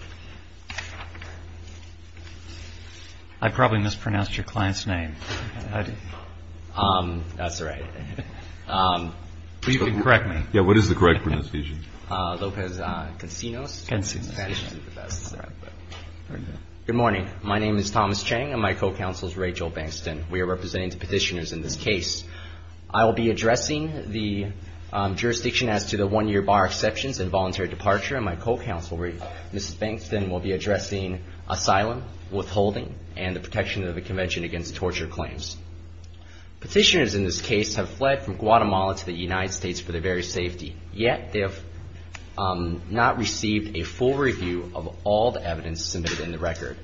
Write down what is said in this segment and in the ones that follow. Good morning. My name is Thomas Chang and my co-counsel is Rachel Bankston. We are representing the petitioners in this case. I will be addressing the jurisdiction as to the one-year bar exceptions and voluntary departure, and my co-counsel, Mrs. Bankston, will be addressing asylum, withholding, and the protection of the Convention Against Torture Claims. Petitioners in this case have fled from Guatemala to the United States for their very safety, yet they have not received a full review of all the evidence submitted in the record.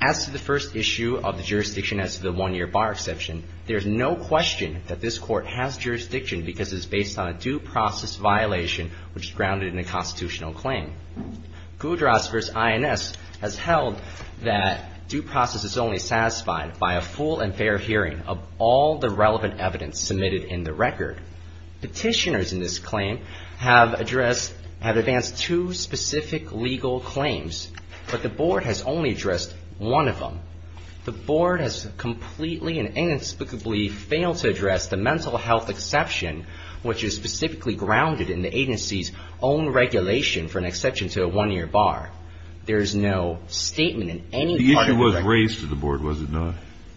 As to the first issue of the jurisdiction as to the one-year bar exception, there is no question that this court has jurisdiction because it is based on a due process violation which is grounded in the constitutional claim. Goodras v. INS has held that due process is only satisfied by a full and fair hearing of all the relevant evidence submitted in the record. Petitioners in this claim have advanced two specific legal claims, but the Board has only addressed one of them. The Board has completely and inexplicably failed to address the mental health exception which is specifically grounded in the agency's own regulation for an exception to a one-year bar. There is no statement in any part of the record. The issue was raised to the Board, was it not?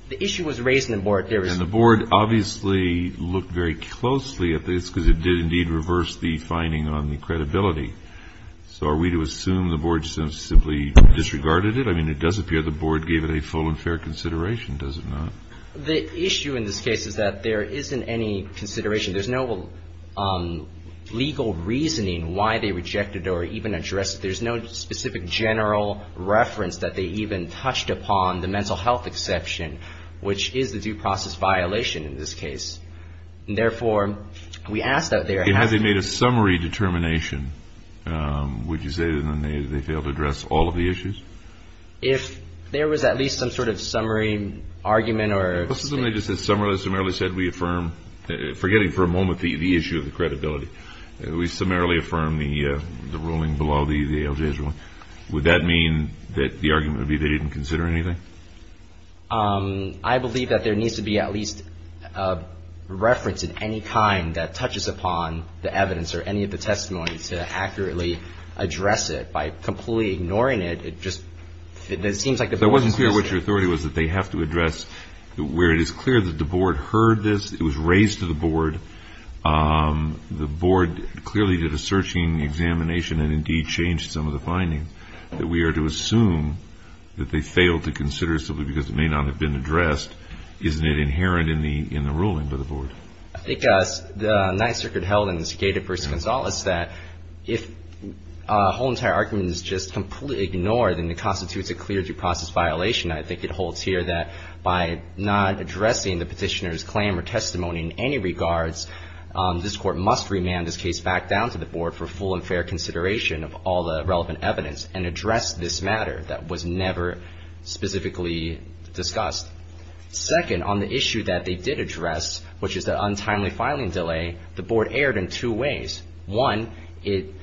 The issue was raised to the Board. And the Board obviously looked very closely at this because it did indeed reverse the finding on the credibility. So are we to assume the Board simply disregarded it? I mean, it does appear the Board gave it a full and fair consideration, does it not? The issue in this case is that there isn't any consideration. There's no legal reasoning why they rejected or even addressed it. There's no specific general reference that they even touched upon the mental health exception, which is the due process violation in this case. And therefore, we ask that they are happy to Had they made a summary determination, would you say that they failed to address all of the issues? If there was at least some sort of summary argument or What's the summary? They just said we affirm, forgetting for a moment the issue of the credibility. We summarily affirm the ruling below the ALJ's ruling. Would that mean that the argument would be they didn't consider anything? I believe that there needs to be at least a reference of any kind that touches upon the evidence or any of the testimony to accurately address it. By completely ignoring it, it just seems like the Board is missing it. It wasn't clear what your authority was that they have to address. Where it is clear that the Board heard this, it was raised to the Board. The Board clearly did a searching examination and indeed changed some of the findings. That we are to assume that they failed to consider simply because it may not have been addressed, isn't it inherent in the ruling by the Board? I think the Ninth Circuit held in the Cicada v. Gonzales that if a whole entire argument is just completely ignored, then it constitutes a clear due process violation. I think it holds here that by not addressing the petitioner's claim or testimony in any regards, this Court must remand this case back down to the Board for full and fair consideration of all the relevant evidence and address this matter that was never specifically discussed. Second, on the issue that they did address, which is the untimely filing delay, the Board erred in two ways. One, it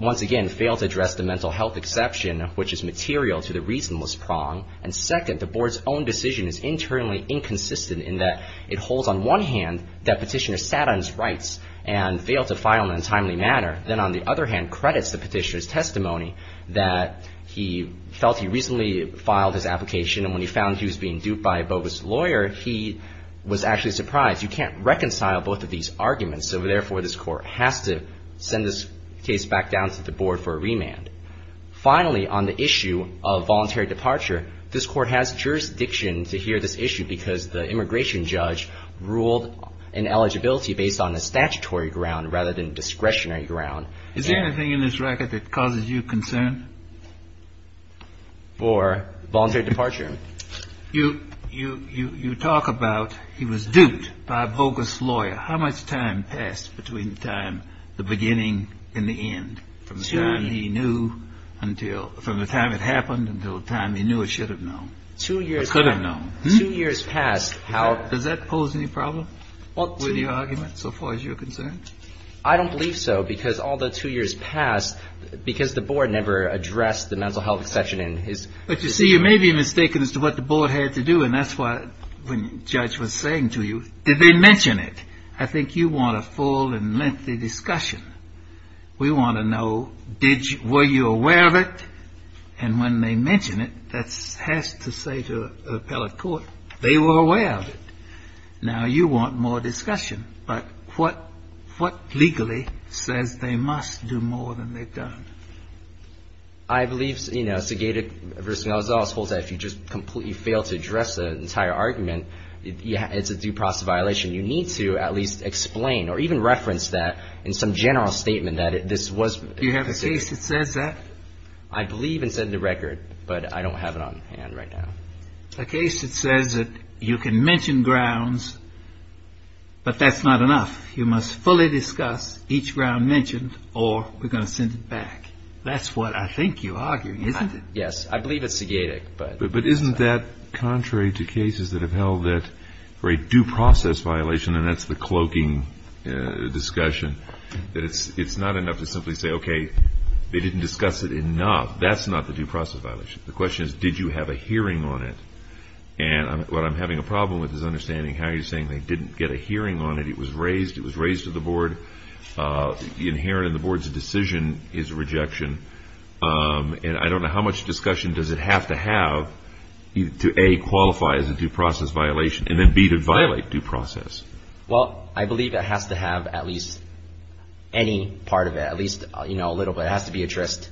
once again failed to address the mental health exception, which is material to the reasonless prong. And second, the Board's own decision is internally inconsistent in that it holds on one hand that petitioner sat on his rights and failed to file in a timely manner, then on the other hand credits the petitioner's testimony that he felt he reasonably filed his application, and when he found he was being duped by a bogus lawyer, he was actually surprised. You can't reconcile both of these arguments. So, therefore, this Court has to send this case back down to the Board for a remand. Finally, on the issue of voluntary departure, this Court has jurisdiction to hear this issue because the immigration judge ruled an eligibility based on a statutory ground rather than discretionary ground. Is there anything in this record that causes you concern? For voluntary departure. You talk about he was duped by a bogus lawyer. How much time passed between the time, the beginning and the end, from the time he knew until, from the time it happened until the time he knew or should have known, or could have known? Two years past, how Does that pose any problem with your argument so far as you're concerned? I don't believe so, because all the two years past, because the Board never addressed the mental health exception in his But, you see, you may be mistaken as to what the Board had to do, and that's why, when the judge was saying to you, did they mention it? I think you want a full and lengthy discussion. We want to know, were you aware of it? And when they mention it, that has to say to appellate court, they were aware of it. Now you want more discussion. But what legally says they must do more than they've done? I believe, you know, Segeta v. Gonzalez holds that if you just completely fail to address the entire argument, it's a due process violation. You need to at least explain or even reference that in some general statement that this was Do you have a case that says that? I believe it's in the record, but I don't have it on hand right now. A case that says that you can mention grounds, but that's not enough. You must fully discuss each ground mentioned or we're going to send it back. That's what I think you're arguing, isn't it? Yes. I believe it's Segeta. But isn't that contrary to cases that have held that for a due process violation, and that's the cloaking discussion, that it's not enough to simply say, okay, they didn't discuss it enough. That's not the due process violation. The question is, did you have a hearing on it? And what I'm having a problem with is understanding how you're saying they didn't get a hearing on it. It was raised. It was raised to the Board. Inherent in the Board's decision is rejection. And I don't know how much discussion does it have to have to, A, qualify as a due process violation, and then, B, to violate due process. Well, I believe it has to have at least any part of it, at least a little bit. It has to be addressed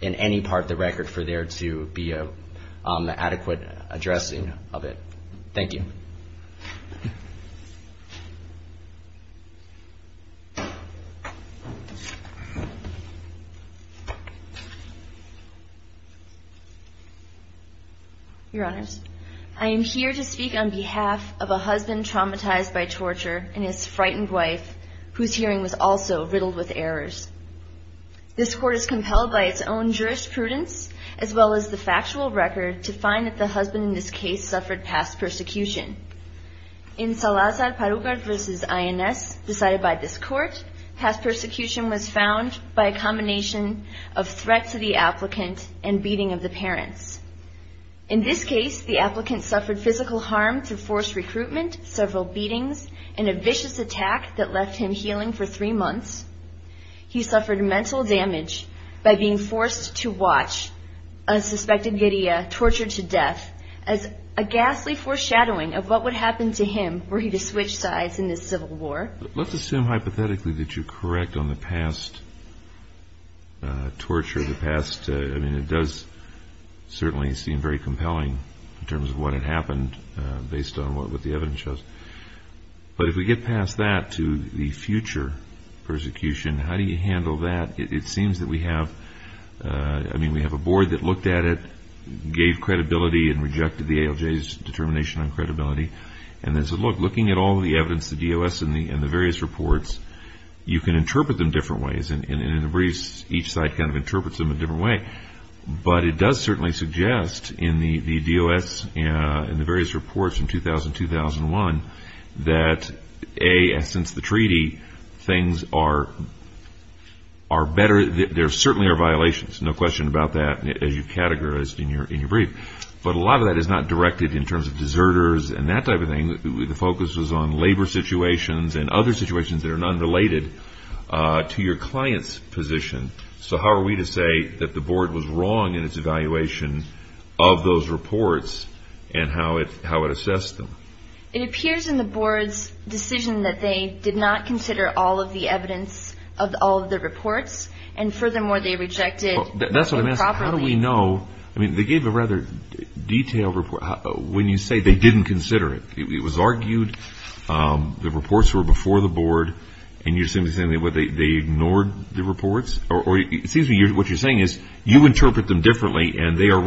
in any part of the record for there to be an adequate addressing of it. Thank you. Your Honors, I am here to speak on behalf of a husband traumatized by torture and his frightened wife, whose hearing was also riddled with errors. This Court is compelled by its own jurisprudence, as well as the factual record, to find that the husband in this case suffered past persecution. In Salazar-Parugar v. INS, decided by this Court, past persecution was found by a combination of threat to the applicant and beating of the parents. In this case, the applicant suffered physical harm through forced recruitment, several beatings, and a death by being forced to watch a suspected giddy-up, tortured to death, as a ghastly foreshadowing of what would happen to him were he to switch sides in this civil war. Let's assume hypothetically that you're correct on the past torture. I mean, it does certainly seem very compelling in terms of what had happened based on what the evidence shows. But if we get past that to the future persecution, how do you handle that? It seems that we have, I mean, we have a board that looked at it, gave credibility and rejected the ALJ's determination on credibility, and then said, look, looking at all the evidence, the DOS and the various reports, you can interpret them different ways. And in the briefs, each side kind of interprets them a different way. But it does certainly suggest in the DOS and the ALJ, there certainly are violations, no question about that, as you've categorized in your brief. But a lot of that is not directed in terms of deserters and that type of thing. The focus was on labor situations and other situations that are not related to your client's position. So how are we to say that the board was wrong in its evaluation of those reports and how it assessed them? It appears in the board's decision that they did not consider all of the evidence of all of the reports, and furthermore, they rejected them properly. That's what I'm asking. How do we know? I mean, they gave a rather detailed report. When you say they didn't consider it, it was argued the reports were before the board, and you're simply saying they ignored the reports? Or it seems to me what you're saying is you interpret them differently and they are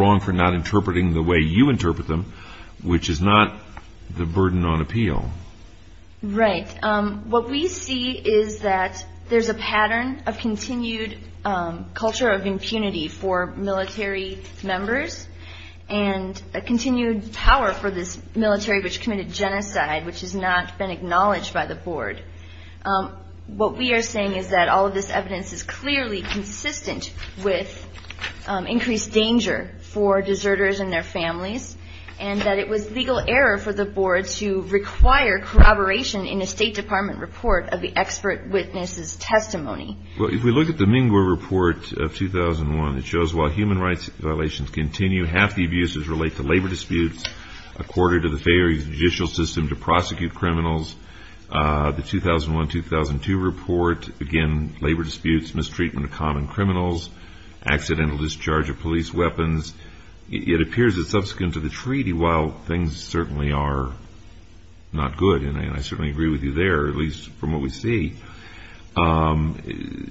not the burden on appeal. Right. What we see is that there's a pattern of continued culture of impunity for military members and a continued power for this military which committed genocide, which has not been acknowledged by the board. What we are saying is that all of this evidence is clearly consistent with increased danger for deserters and their families, and that it was legal error for the board to require corroboration in a State Department report of the expert witness's testimony. Well, if we look at the Mingua report of 2001, it shows while human rights violations continue, half the abuses relate to labor disputes, a quarter to the fair judicial system to prosecute criminals. The 2001-2002 report, again, labor disputes, mistreatment of common criminals, accidental discharge of police weapons. It appears it's subsequent to the treaty, while things certainly are not good, and I certainly agree with you there, at least from what we see.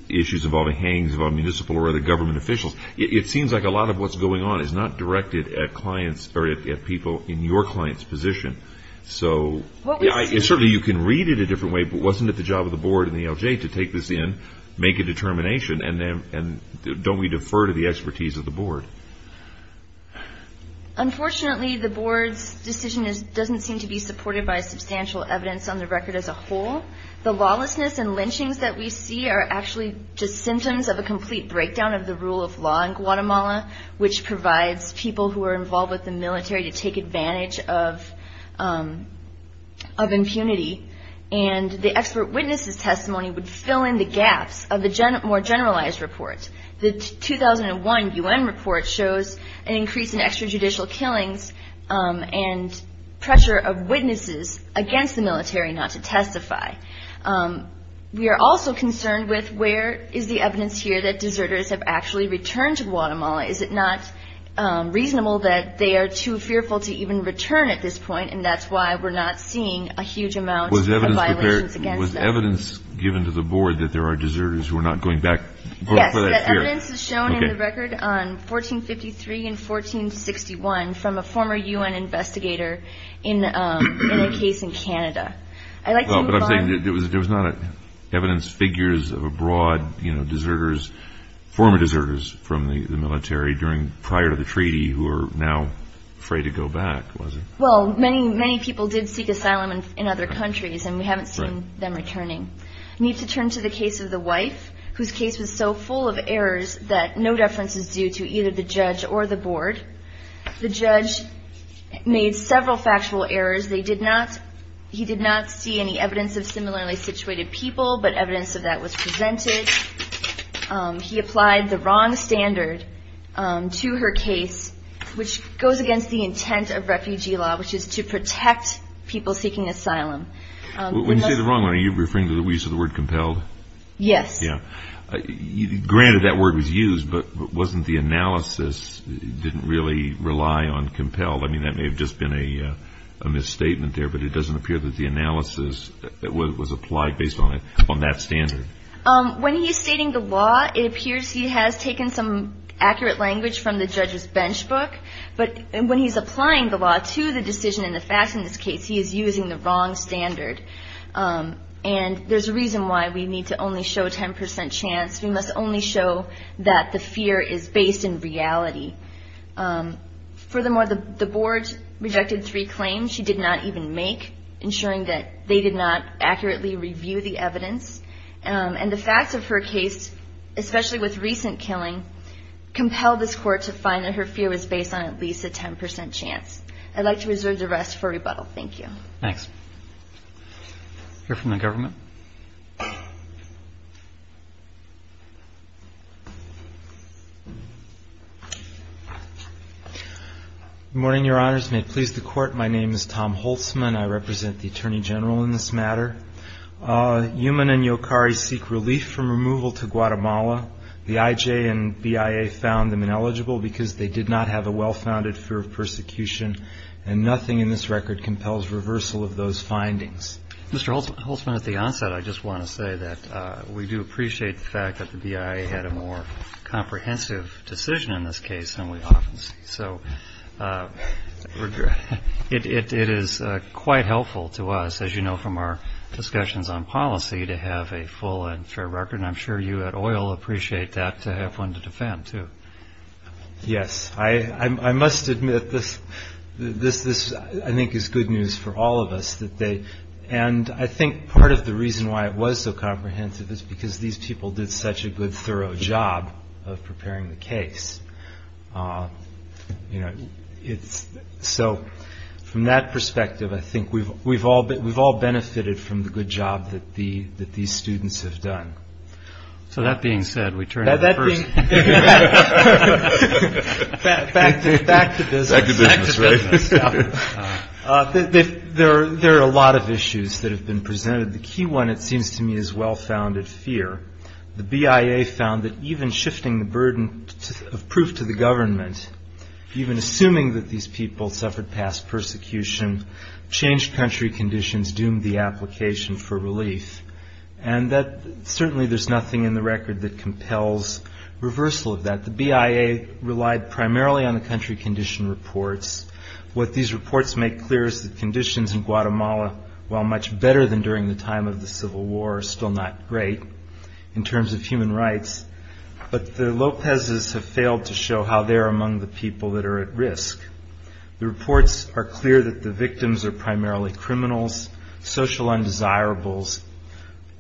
Issues involving hangings of a municipal or other government officials. It seems like a lot of what's going on is not directed at clients or at people in your client's position. So certainly you can read it a different way, but wasn't it the job of the board and the LJ to take this in, make a determination, and don't we defer to the expertise of the board? Unfortunately, the board's decision doesn't seem to be supported by substantial evidence on the record as a whole. The lawlessness and lynchings that we see are actually just symptoms of a complete breakdown of the rule of law in Guatemala, which provides people who are involved with the military to take advantage of impunity, and the expert witness's testimony would fill in the gaps of the more generalized report. The 2001 U.N. report shows an increase in extrajudicial killings and pressure of witnesses against the military not to testify. We are also concerned with where is the evidence here that deserters have actually returned to Guatemala? Is it not reasonable that they are too fearful to even return at this point, and that's why we're not seeing a huge amount of violations against them? Is there evidence given to the board that there are deserters who are not going back? Yes, that evidence is shown in the record on 1453 and 1461 from a former U.N. investigator in a case in Canada. But I'm saying there was not evidence, figures of a broad deserters, former deserters from the military prior to the treaty who are now afraid to go back, was there? Well, many, many people did seek asylum in other countries, and we haven't seen them returning. Right. I need to turn to the case of the wife, whose case was so full of errors that no deference is due to either the judge or the board. The judge made several factual errors. They did not, he did not see any evidence of similarly situated people, but evidence of that was presented. He applied the wrong standard to her case, which goes against the intent of refugee law, which is to protect people seeking asylum. When you say the wrong one, are you referring to the use of the word compelled? Yes. Yeah. Granted, that word was used, but wasn't the analysis didn't really rely on compelled? I mean, that may have just been a misstatement there, but it doesn't appear that the analysis was applied based on that standard. When he's stating the law, it appears he has taken some accurate language from the judge's bench book, but when he's applying the law to the decision and the facts in this case, he is using the wrong standard. And there's a reason why we need to only show 10% chance. We must only show that the fear is based in reality. Furthermore, the board rejected three claims she did not even make, ensuring that they did not accurately review the evidence. And the facts of her case, especially with recent killing, compelled this court to find that her fear was based on at least a 10% chance. I'd like to reserve the rest for rebuttal. Thank you. Thanks. We'll hear from the government. Good morning, Your Honors. May it please the Court, my name is Tom Holtzman. I represent the Attorney General in this matter. Yuman and Yokari seek relief from removal to Guatemala. The IJ and BIA found them ineligible because they did not have a well-founded fear of persecution and nothing in this record compels reversal of those findings. Mr. Holtzman, at the onset, I just want to say that we do appreciate the fact that the BIA had a more comprehensive decision in this case than we often see. So it is quite helpful to us, as you know from our discussions on policy, to have a full and fair record. And I'm sure you at OIL appreciate that, to have one to defend, too. Yes. I must admit, this I think is good news for all of us. And I think part of the reason why it was so comprehensive is because these people did such a good, thorough job of preparing the case. So from that perspective, I think we've all benefited from the good job that these students have done. So that being said, we turn to the first. Back to business. Back to business. There are a lot of issues that have been presented. The key one, it seems to me, is well-founded fear. The BIA found that even shifting the burden of proof to the government, even assuming that these people suffered past persecution, changed country conditions, doomed the application for relief. And certainly there's nothing in the record that compels reversal of that. The BIA relied primarily on the country condition reports. What these reports make clear is that conditions in Guatemala, while much better than during the time of the Civil War, are still not great in terms of human rights. But the Lopezes have failed to show how they're among the people that are at risk. The reports are clear that the criminals, social undesirables,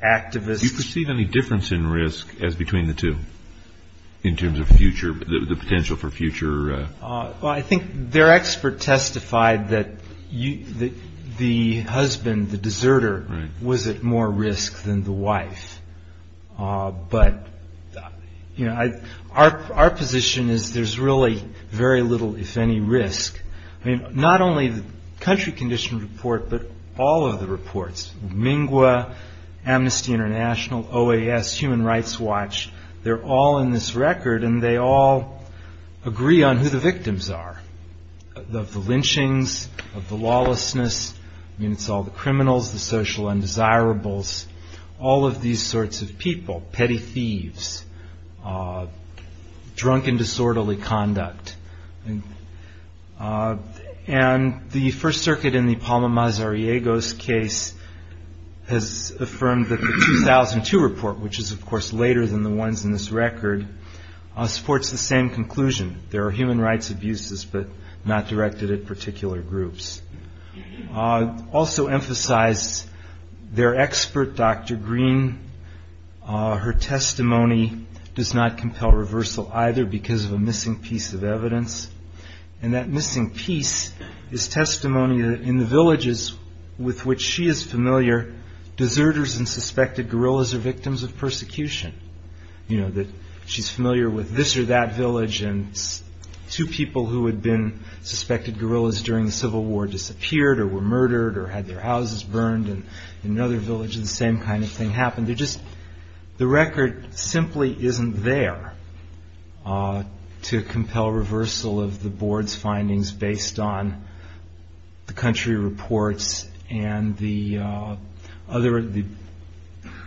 activists... Do you perceive any difference in risk as between the two in terms of the potential for future... I think their expert testified that the husband, the deserter, was at more risk than the wife. But our position is there's really very little, if any, risk. Not only the country condition report, but all of the reports, Mingua, Amnesty International, OAS, Human Rights Watch, they're all in this record and they all agree on who the victims are. The lynchings, the lawlessness, it's all the criminals, the social undesirables, all of these sorts of people, petty thieves, drunken disorderly conduct. And the First Circuit in the Palma Mazariego's case has affirmed that the 2002 report, which is of course later than the ones in this record, supports the same conclusion. There are human rights abuses, but not directed at particular groups. Also emphasized their expert, Dr. Green, her testimony does not compel reversal either because of a missing piece of evidence. And that missing piece is testimony in the villages with which she is familiar, deserters and suspected guerrillas are victims of persecution. She's familiar with this or that village and two people who had been suspected guerrillas during the Civil War disappeared or were murdered or had their houses burned in another isn't there to compel reversal of the board's findings based on the country reports and the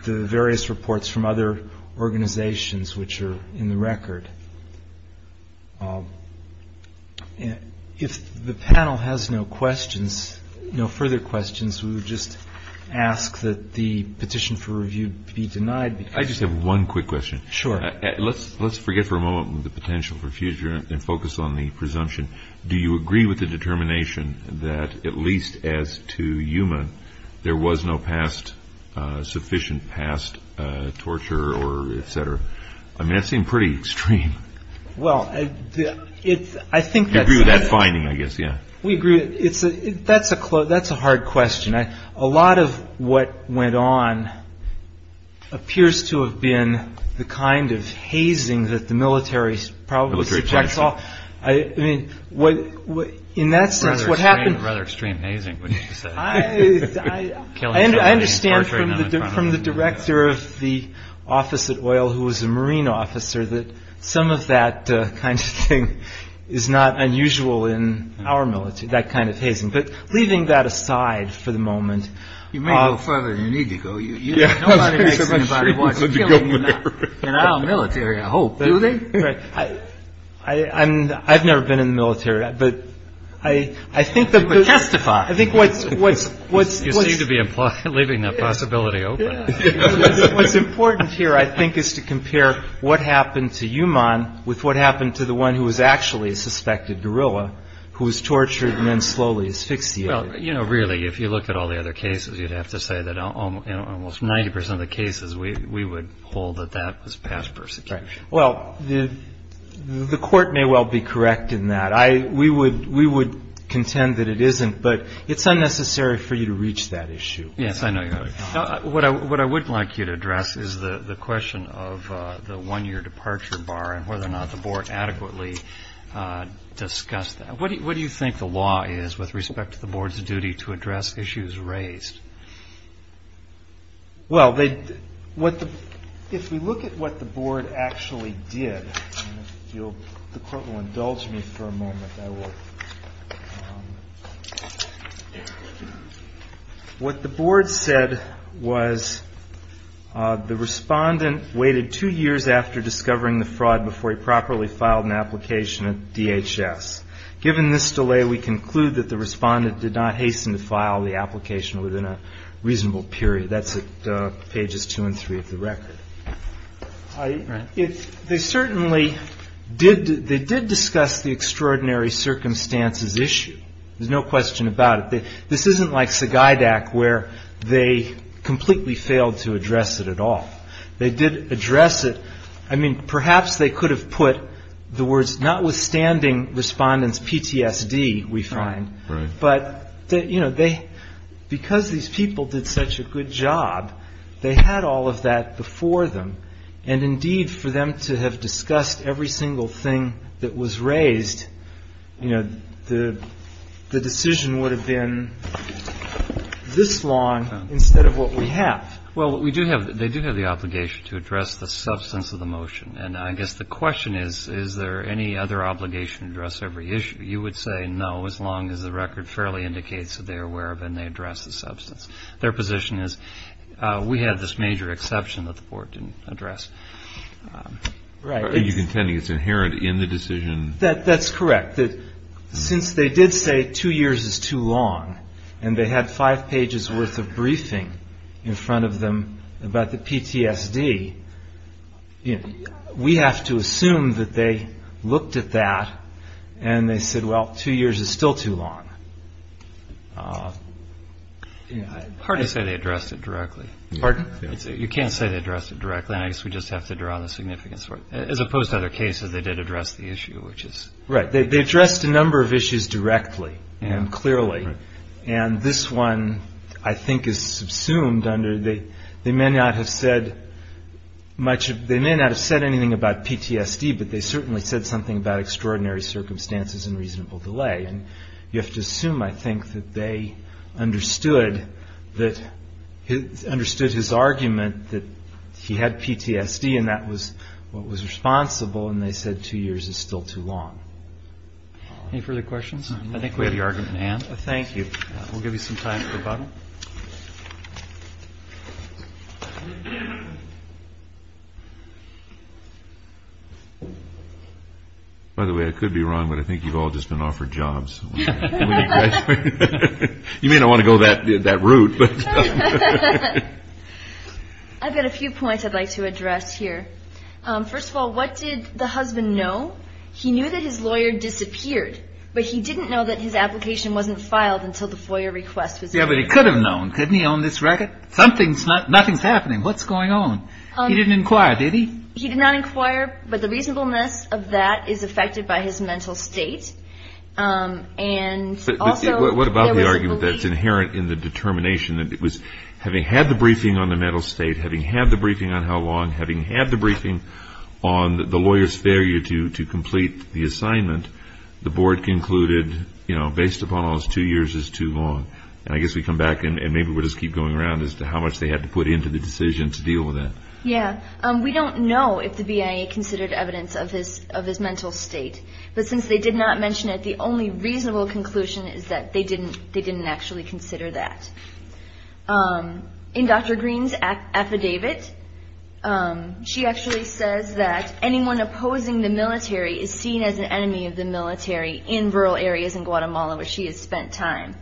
various reports from other organizations which are in the record. If the panel has no questions, no further questions, we would just ask that the Let's forget for a moment the potential for future and focus on the presumption. Do you agree with the determination that at least as to Yuma, there was no past sufficient past torture or et cetera? I mean, that seemed pretty extreme. Well, I think that's a hard question. A lot of what went on appears to have been the kind of hazing that the military probably rejects off. I mean, what in that sense, what happened rather extreme hazing, which I understand from the director of the office at oil, who was a Marine officer, that some of that kind of thing is not unusual in our military, that kind of hazing. But leaving that aside for the moment, You may go further than you need to go. Nobody makes anybody watch a killing in our military, I hope. Do they? I've never been in the military, but I think that would testify. I think what you seem to be leaving that possibility open. What's important here, I think, is to compare what happened to Yuman with what happened to the one who was actually a suspected guerrilla, who was tortured and then slowly is fixed. Well, really, if you look at all the other cases, you'd have to say that almost 90 percent of the cases, we would hold that that was past persecution. Well, the court may well be correct in that. We would contend that it isn't, but it's unnecessary for you to reach that issue. Yes, I know. What I would like you to address is the question of the one year departure bar and whether or not the board adequately discussed that. What do you think the law is with respect to the board's duty to address issues raised? Well, if we look at what the board actually did, the court will indulge me for a moment. What the board said was the respondent waited two years after discovering the fraud before he properly filed an application at DHS. Given this delay, we conclude that the respondent did not hasten to file the application within a reasonable period. That's at pages two and three of the record. They certainly did discuss the extraordinary circumstances issue. There's no question about it. This isn't like Sagaidak where they completely failed to address it at all. They did address it. I mean, perhaps they could have put the words, notwithstanding respondent's PTSD, we find. But because these people did such a good job, they had all of that before them. And indeed, for them to have discussed every single thing that was raised, the decision would have been this long instead of what we have. Well, they do have the obligation to address the substance of the motion. And I guess the question is, is there any other obligation to address every issue? You would say no, as long as the record fairly indicates that they are aware of and they address the substance. Their position is we have this major exception that the board didn't address. Are you contending it's inherent in the decision? That's correct. Since they did say two years is too long, and they had five pages' worth of briefing in front of them about the PTSD, we have to assume that they looked at that and they said, well, two years is still too long. It's hard to say they addressed it directly. Pardon? You can't say they addressed it directly. I guess we just have to draw the significance for it. As opposed to other cases, they did address the issue. They addressed a number of issues directly and clearly. And this one, I think, is subsumed under they may not have said anything about PTSD, but they certainly said something about extraordinary circumstances and reasonable delay. You have to assume, I think, that they understood his argument that he had PTSD and that was what was responsible, and they said two years is still too long. Any further questions? I think we have your argument, Ann. Thank you. We'll give you some time for the bottom. By the way, I could be wrong, but I think you've all just been offered jobs. You may not want to go that route. I've got a few points I'd like to address here. First of all, what did the husband know? He knew that his lawyer disappeared, but he didn't know that his application wasn't filed until the FOIA request was made. Yeah, but he could have known. Couldn't he own this record? Nothing's happening. What's going on? He didn't inquire, did he? He did not inquire, but the reasonableness of that is affected by his mental state. But what about the argument that's inherent in the determination that it was, having had the briefing on the mental state, having had the briefing on how long, having had the briefing on the lawyer's failure to complete the assignment, the board concluded, you know, based upon all this, two years is too long. And I guess we come back, and maybe we'll just keep going around as to how much they had to put into the decision to deal with that. Yeah. We don't know if the BIA considered evidence of his mental state, but since they did not mention it, the only reasonable conclusion is that they didn't actually consider that. In Dr. Green's affidavit, she actually says that anyone opposing the military is seen as an enemy of the military in rural areas in Guatemala, where she has spent time.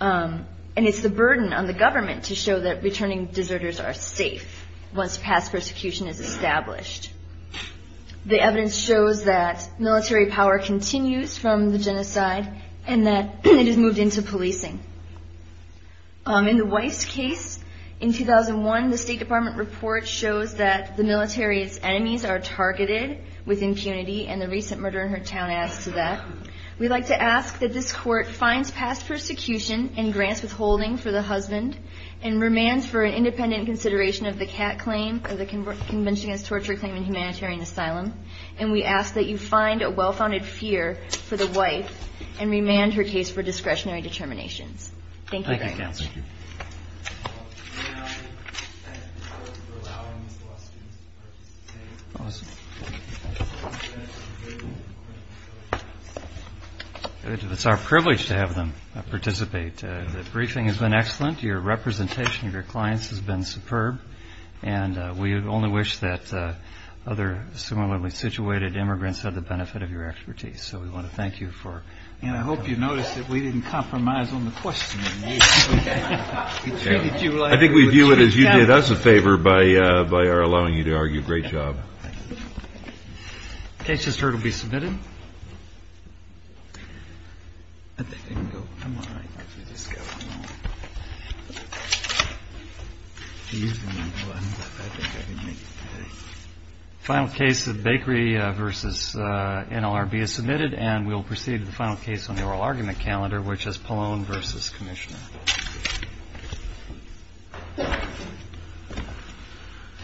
And it's the burden on the government to show that returning deserters are safe once past persecution is established. The evidence shows that military power continues from the genocide and that it has moved into policing. In the wife's case, in 2001, the State Department report shows that the military's enemies are targeted with impunity, and the recent murder in her town adds to that. We'd like to ask that this court finds past persecution and grants withholding for the husband and remands for an independent consideration of the CAT claim, or the Convention Against Torture Claim in Humanitarian Asylum, and we ask that you find a well-founded fear for the wife and remand her case for discretionary determinations. Thank you very much. Thank you, counsel. It's our privilege to have them participate. The briefing has been excellent. Your representation of your clients has been superb. And we only wish that other similarly situated immigrants had the benefit of your expertise. So we want to thank you for that. And I hope you noticed that we didn't compromise on the questioning. I think we view it as you did us a favor by allowing you to argue. Great job. The case just heard will be submitted. The final case of Bakery v. NLRB is submitted, and we'll proceed to the final case on the oral argument calendar, which is Pallone v. Commissioner.